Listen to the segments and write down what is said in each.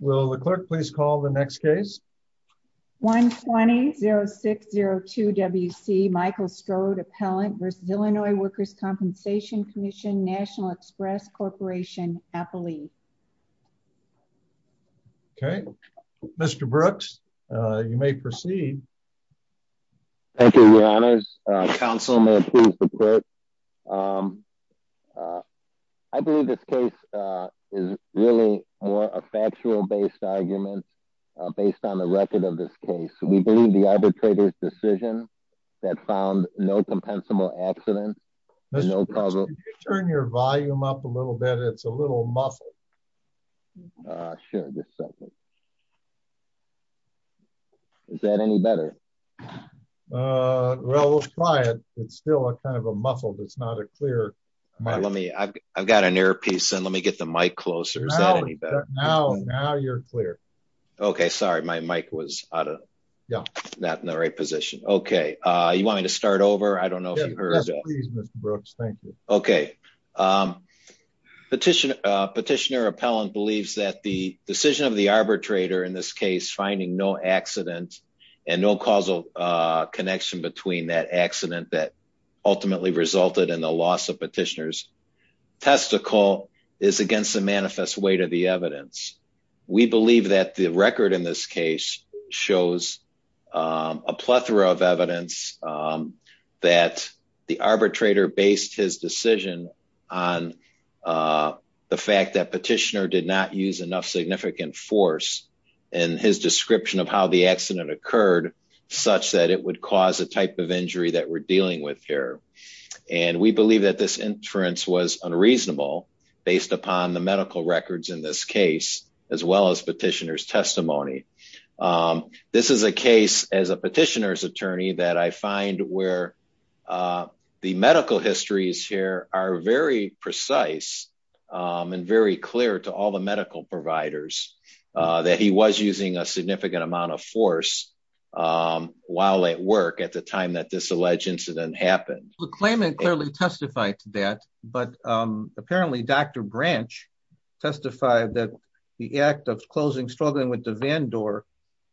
Will the clerk please call the next case? 120-0602-WC Michael Strode, Appellant versus Illinois Workers' Compensation Commission, National Express Corporation, appellee. Okay, Mr. Brooks, you may proceed. Thank you, Your Honors. Councilman, please report. I believe this case is really a factual-based argument based on the record of this case. We believe the arbitrator's decision that found no compensable accident. Mr. Brooks, could you turn your volume up a little bit? It's a little muffled. Sure, just a second. Is that any better? Well, we'll try it. It's still a kind of a muffled. It's not a clear mic. Let me, I've got an earpiece and let me get the mic closer. Is that any better? Now, now you're clear. Okay, sorry, my mic was out of, not in the right position. Okay, you want me to start over? I don't know if you heard. Please, Mr. Brooks, thank you. Okay, Petitioner, Petitioner Appellant believes that the decision of the arbitrator in this case, finding no accident and no causal connection between that accident that ultimately resulted in the loss of Petitioner's testicle is against the manifest weight of the evidence. We believe that the record in this case shows a plethora of evidence that the arbitrator based his decision on the fact that Petitioner did not use enough significant force in his description of how the accident occurred, such that it would cause a type of injury that we're dealing with here. And we believe that this inference was unreasonable based upon the medical records in this case, as well as Petitioner's testimony. This is a case as a Petitioner's attorney that I find where the medical histories here are very precise and very clear to all the medical providers that he was using a significant amount of force while at work at the time that this alleged incident happened. The claimant clearly testified to that, but apparently Dr. Branch testified that the act of closing, struggling with the van door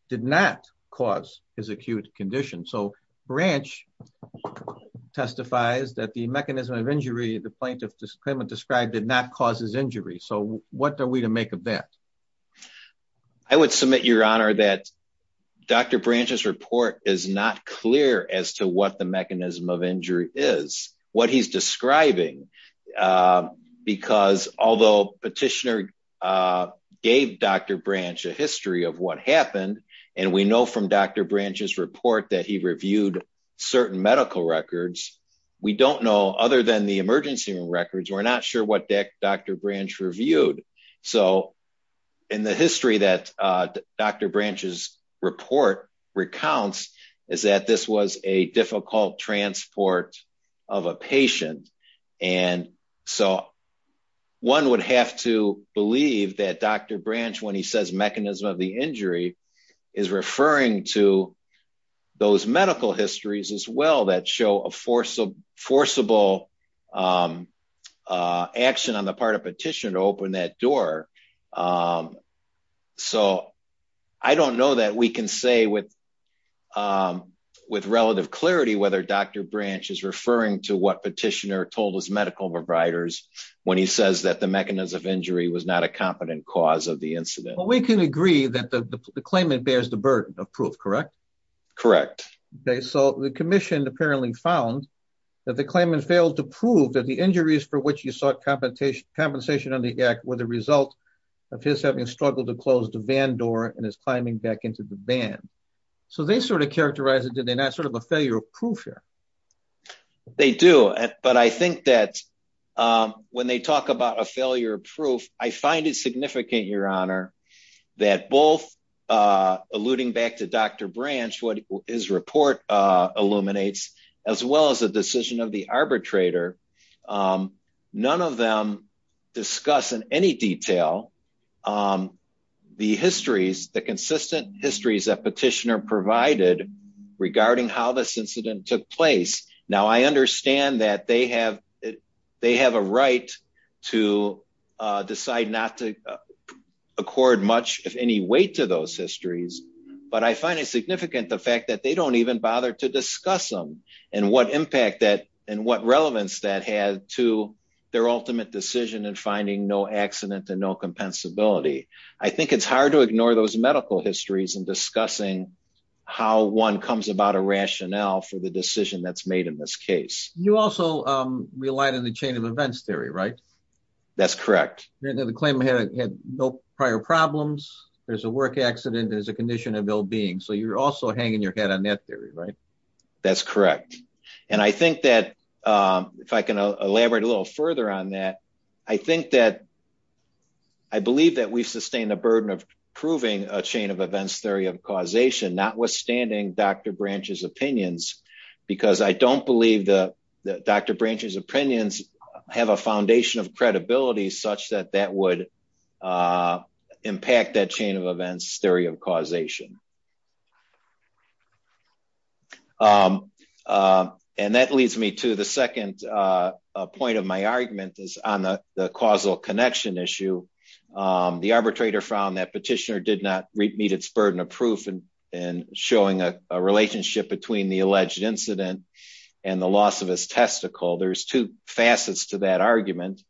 did not cause his acute condition. So Branch testifies that the mechanism of injury, the plaintiff's claimant described did not cause his injury. So what are we to make of that? I would submit your honor that Dr. Branch's report is not clear as to what the mechanism of injury is, what he's describing, because although Petitioner gave Dr. Branch a history of what happened, and we know from Dr. Branch's report that he reviewed certain medical records, we don't know other than the emergency room records, we're not sure what Dr. Branch reviewed. So in the history that Dr. Branch's report recounts is that this was a difficult transport of a patient. And so one would have to believe that Dr. Branch, when he says mechanism of the injury, is referring to those medical histories as well that show a forcible action on the part of Petitioner to open that door. So I don't know that we can say with relative clarity whether Dr. Branch is referring to what Petitioner told his medical providers when he says that the mechanism of injury was not a competent cause of the incident. We can agree that the claimant bears the burden of proof, correct? Correct. Okay, so the commission apparently found that the claimant failed to prove that the injuries for which he sought compensation on the act were the result of his having struggled to close the van door and his climbing back into the van. So they sort of characterized it, did they not, sort of a failure of proof here? They do, but I think that when they talk about a failure of proof, I find it significant, Your Honor, that both alluding back to Dr. Branch, what his report illuminates, as well as the decision of the arbitrator, none of them discuss in any detail the histories, the consistent histories that Petitioner provided regarding how this incident took place. Now, I understand that they have a right to decide not to accord much, if any, weight to those histories, but I find it significant the fact that they don't even bother to discuss them and what impact that, and what relevance that had to their ultimate decision in finding no accident and no compensability. I think it's hard to ignore those medical histories in discussing how one comes about a rationale for the decision that's made in this case. You also relied on the chain of events theory, right? That's correct. The claimant had no prior problems, there's a work accident, there's a condition of ill-being, so you're also hanging your head on that theory, right? That's correct, and I think that, if I can elaborate a little further on that, I think that I believe that we've sustained the burden of proving a chain of events theory of causation, notwithstanding Dr. Branch's opinions, because I don't believe that Dr. Branch's opinions have a foundation of credibility such that that would impact that chain of events theory of causation. And that leads me to the second point of my argument is on the causal connection issue. The arbitrator found that petitioner did not meet its burden of proof in showing a relationship between the alleged incident and the loss of his testicle. There's two facets to that argument.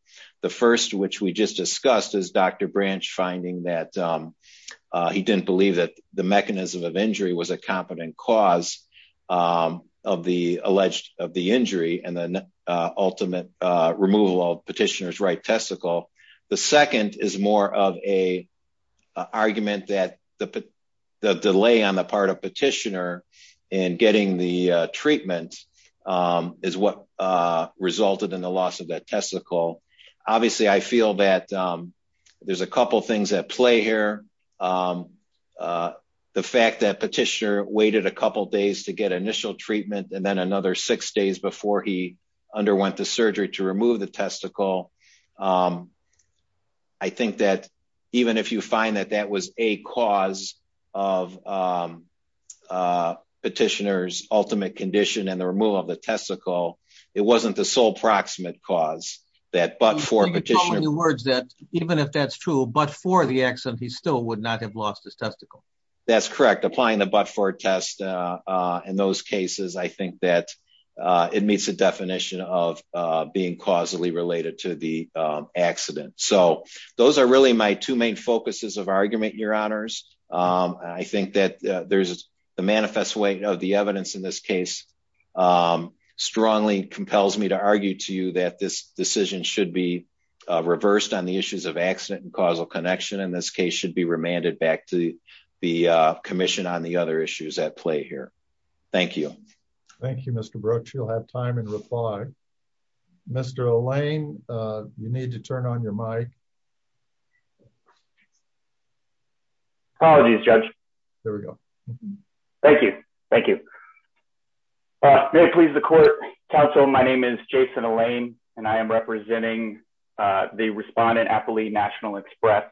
The first, which we just discussed, is Dr. Branch finding that he didn't believe that the mechanism of injury was a competent cause of the injury and the ultimate removal of petitioner's right testicle. The second is more of an argument that the delay on the part of petitioner in getting the treatment is what resulted in the loss of that testicle. Obviously, I feel that there's a couple of things at play here. The fact that petitioner waited a couple of days to get initial treatment and then another six days before he underwent the surgery to remove the testicle. I think that even if you find that that was a cause of petitioner's ultimate condition and the removal of the testicle, it wasn't the sole proximate cause that but for petitioner. So you're calling the words that even if that's true, but for the accident, he still would not have lost his testicle. That's correct. Applying the but for test in those cases, I think that it meets the definition of being causally related to the accident. So those are really my two main focuses of argument, your honors. I think that there's a manifest way of the evidence in this case. Strongly compels me to argue to you that this decision should be reversed on the issues of accident and causal connection in this case should be remanded back to the commission on the other issues at play here. Thank you. Thank you, Mr. Brooks. You'll have time and reply. Mr. Lane, you need to turn on your mic. Apologies, Judge. There we go. Thank you. Thank you. May it please the court, counsel. My name is Jason Elaine, and I am representing the respondent happily National Express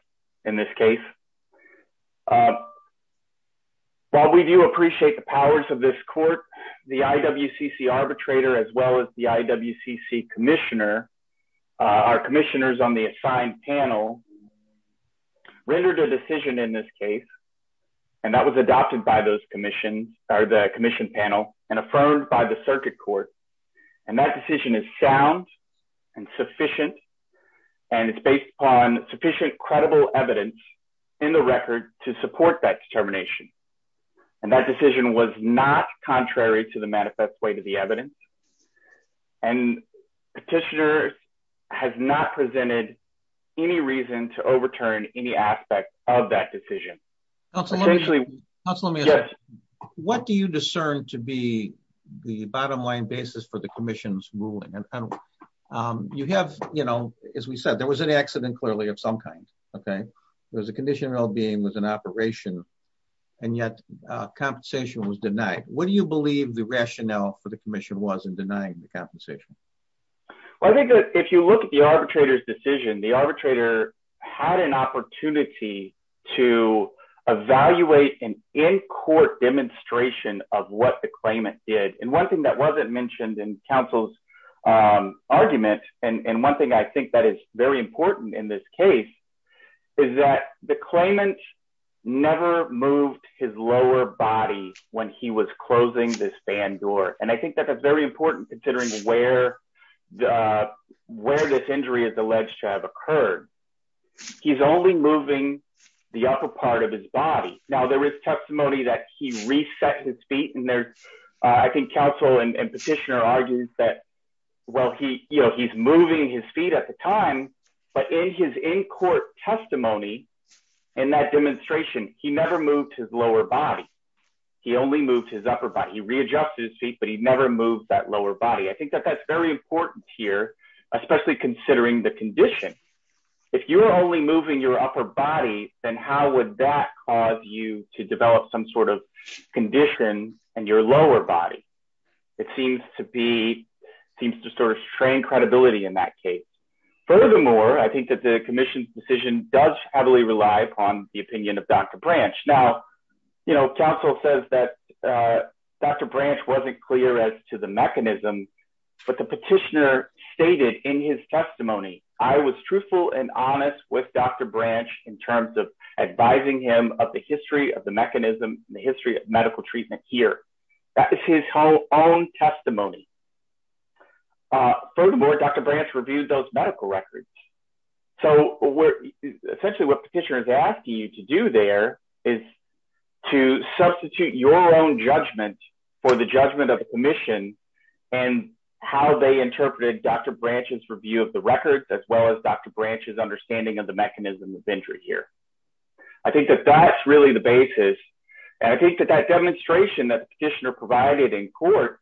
in this case. While we do appreciate the powers of this court, the IWCC arbitrator, as well as the IWCC commissioner, our commissioners on the assigned panel rendered a decision in this case, and that was adopted by those commissions are the commission panel and affirmed by the circuit court. And that decision is sound and sufficient. And it's based on sufficient credible evidence in the record to support that determination. And that decision was not contrary to the manifest way to the evidence. And petitioner has not presented any reason to overturn any aspect of that decision. Essentially, what do you discern to be the bottom line basis for the commission's ruling and you have, you know, as we said, there was an accident clearly of some kind, okay, there was a condition of well being was an operation. And yet, compensation was denied. What do you believe the rationale for the commission was in denying the compensation? Well, I think if you look at the arbitrator's decision, the arbitrator had an opportunity to evaluate an in court demonstration of what the claimant did. And one thing that wasn't mentioned in counsel's argument, and one thing I think that is very important in this case, is that the claimant never moved his lower body when he was closing this fan door. And I think that that's very important considering where the where this injury is alleged to have occurred. He's only moving the upper part of his body. Now there is testimony that he reset his feet in there. I think counsel and petitioner argues that, well, he you know, he's moving his feet at the time. But in his in court testimony, and that demonstration, he never moved his lower body. He only moved his upper body readjusted his feet, but he never moved that lower body. I think that that's very important here, especially considering the condition. If you're only moving your upper body, then how would that cause you to develop some sort of condition in your lower body? It seems to be seems to sort of strain credibility in that case. Furthermore, I think that the commission's decision does heavily rely upon the opinion of Dr. Branch. Now, you know, counsel says that Dr. Branch wasn't clear as to the mechanism. But the petitioner stated in his testimony, I was truthful and honest with Dr. Branch in terms of advising him of the history of the mechanism, the history of medical treatment here. That is his whole own testimony. Furthermore, Dr. Branch reviewed those medical records. So we're essentially what petitioners ask you to do there is to substitute your own judgment for the judgment of the commission, and how they interpreted Dr. Branch's review of the records, as well as Dr. Branch's understanding of the mechanism of injury here. I think that that's really the basis. And I think that that demonstration that the petitioner provided in court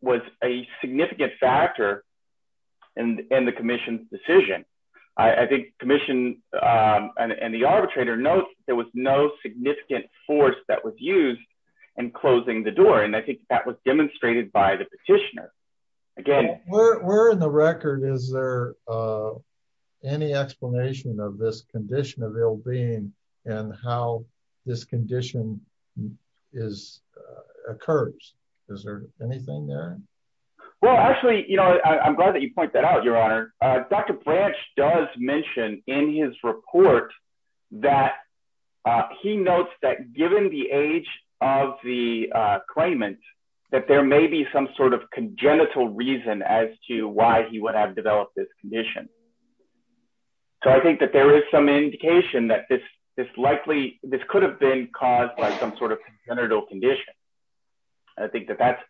was a significant factor in the commission's decision. I think commission and the arbitrator notes, there was no significant force that was practitioner. Again, we're in the record. Is there any explanation of this condition of ill being and how this condition is occurs? Is there anything there? Well, actually, you know, I'm glad that you point that out, Your Honor. Dr. Branch does mention in his report that he notes that given the age of the claimant, that there may be some sort of congenital reason as to why he would have developed this condition. So I think that there is some indication that this is likely this could have been caused by some sort of congenital condition. I think that that's,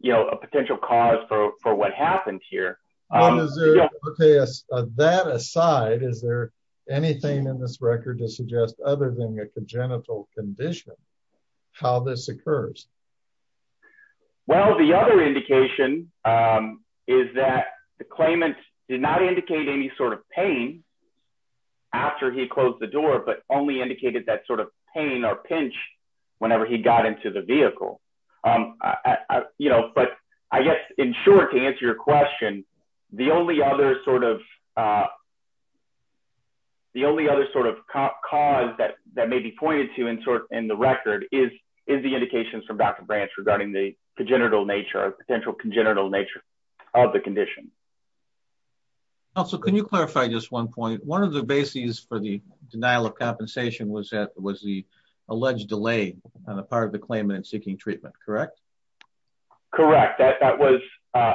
you know, a potential cause for what happened here. Okay, that aside, is there anything in this record to suggest other than a congenital condition, how this occurs? Well, the other indication is that the claimant did not indicate any sort of pain after he closed the door, but only indicated that sort of pain or pinch whenever he got into the the only other sort of the only other sort of cause that that may be pointed to in the record is is the indications from Dr. Branch regarding the congenital nature of potential congenital nature of the condition. Also, can you clarify just one point? One of the bases for the denial of compensation was that was the alleged delay on the part of the claimant seeking treatment, correct? Correct. That was,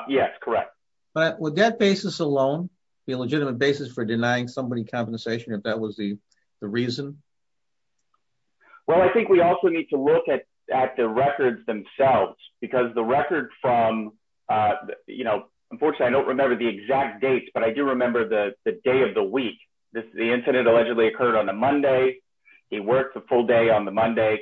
yes, correct. But with that basis alone, the legitimate basis for denying somebody compensation, if that was the reason? Well, I think we also need to look at at the records themselves, because the record from, you know, unfortunately, I don't remember the exact date. But I do remember the day of the week. This is the incident allegedly occurred on a Monday. He worked the full day on the Monday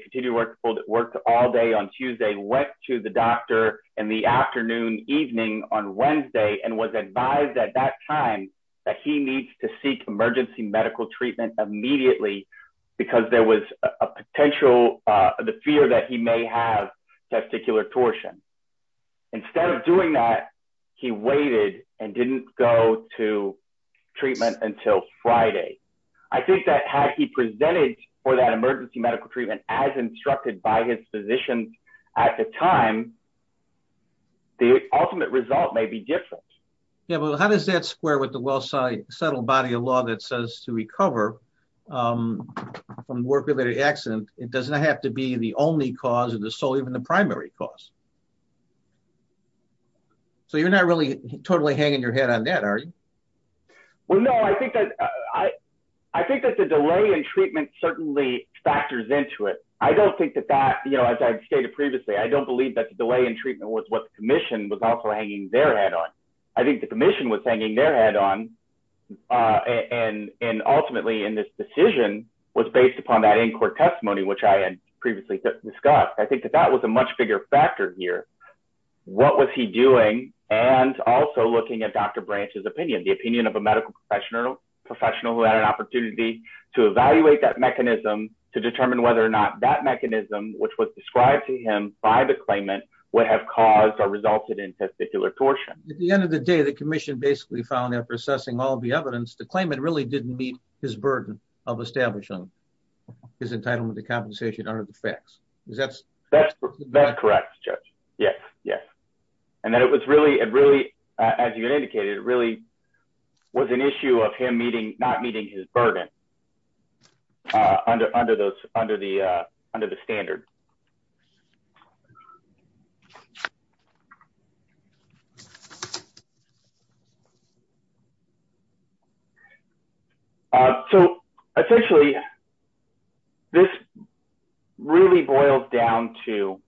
worked all day on Tuesday, went to the doctor in the afternoon evening on Wednesday and was advised at that time that he needs to seek emergency medical treatment immediately. Because there was a potential the fear that he may have testicular torsion. Instead of doing that, he waited and didn't go to treatment until Friday. I think that had he presented for that emergency medical treatment as instructed by his physician, at the time, the ultimate result may be different. Yeah, well, how does that square with the well site subtle body of law that says to recover from work related accident, it doesn't have to be the only cause of the soul, even the primary cause. So you're not really totally hanging your head on that, are you? Well, no, I think that I, I think that the delay in treatment certainly factors into it. I don't think that that you know, as I stated previously, I don't believe that the delay in treatment was what the commission was also hanging their head on. I think the commission was hanging their head on. And, and ultimately, in this decision was based upon that in court testimony, which I had previously discussed, I think that that was a much bigger factor here. What was he doing? And also looking at Dr. branches opinion, the opinion of a medical professional professional who had an opportunity to evaluate that mechanism to determine whether or not that mechanism which was described to him by the claimant would have caused or resulted in testicular torsion. At the end of the day, the commission basically found after assessing all the evidence to claim it really didn't meet his burden of establishing his entitlement to Yes. And then it was really, it really, as you indicated, it really was an issue of him meeting not meeting his burden under under those under the, under the standard. So, essentially, this really boils down to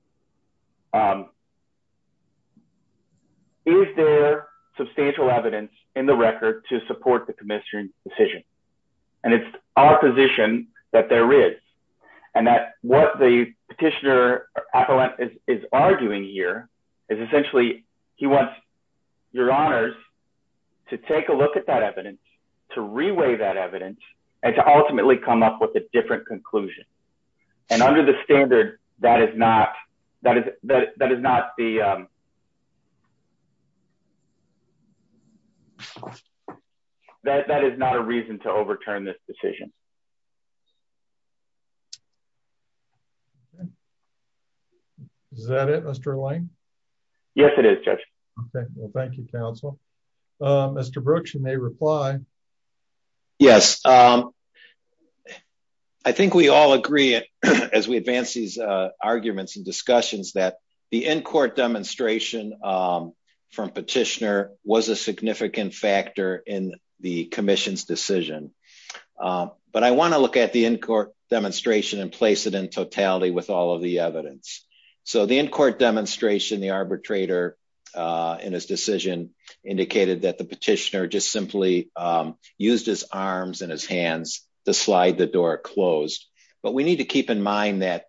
is there substantial evidence in the record to support the commission decision. And it's our position that there is, and that what the petitioner is arguing here is essentially, he wants your honors to take a look at that evidence to reweigh that evidence, and to ultimately come up with a different conclusion. And under the standard, that is not that is that is not the that is not a reason to overturn this decision. Is that it, Mr. Lane? Yes, it is. Okay, well, thank you, Council. Mr. Brooks, you may reply. Yes. I think we all agree, as we advance these arguments and discussions that the in court demonstration from petitioner was a significant factor in the commission's decision. But I want to look at the in court demonstration and place it in totality with all of the evidence. So the in court demonstration, the arbitrator, in his decision, indicated that the petitioner just simply used his arms and his hands to slide the door closed. But we need to keep in mind that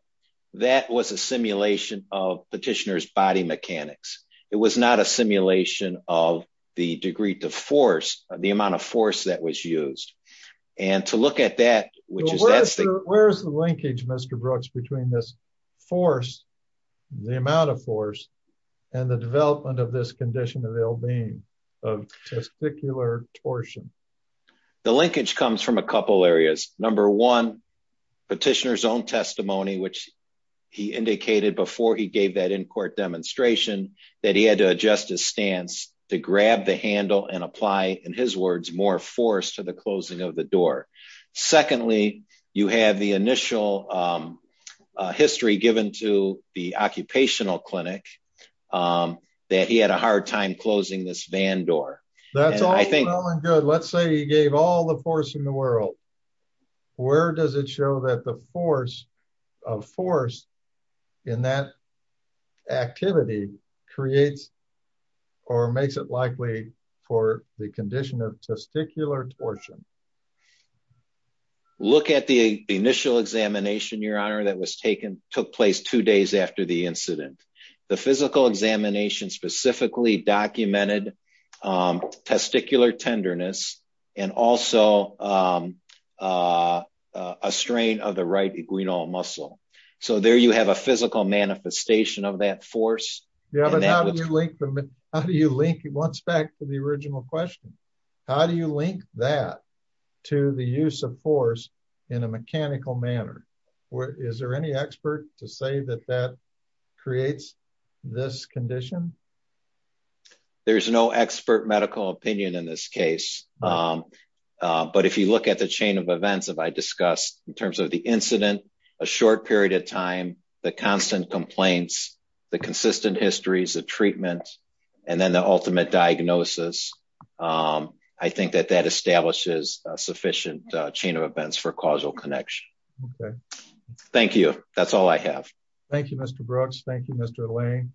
that was a simulation of petitioners body mechanics. It was not a simulation of the degree to force the amount of force that was used. And to look at that, which is where's the linkage, Mr. Brooks between this force, the amount of force, and the development of this condition of testicular torsion. The linkage comes from a couple areas. Number one, petitioner's own testimony, which he indicated before he gave that in court demonstration, that he had to adjust his stance to grab the handle and apply, in his words, more force to the closing of the door. Secondly, you have the initial history given to the occupational clinic that he had a hard time closing this van door. That's all good. Let's say he gave all the force in the world. Where does it show that the force of force in that activity creates or makes it likely for the condition of testicular torsion? Look at the initial examination, Your Honor, that was taken took place two days after the incident. The physical examination specifically documented testicular tenderness and also a strain of the right iguinal muscle. So there you have a physical manifestation of that force. Yeah, but how do you link once back to the original question? How do you link that to the use of force in a mechanical manner? Is there any expert to say that that creates this condition? There's no expert medical opinion in this case. But if you look at the chain of events that I discussed in terms of the incident, a short period of time, the constant complaints, the consistent histories of treatment, and then the ultimate diagnosis, I think that that establishes a sufficient chain of events for causal connection. Okay. Thank you. That's all I have. Thank you, Mr. Brooks. Thank you, Mr. Lane.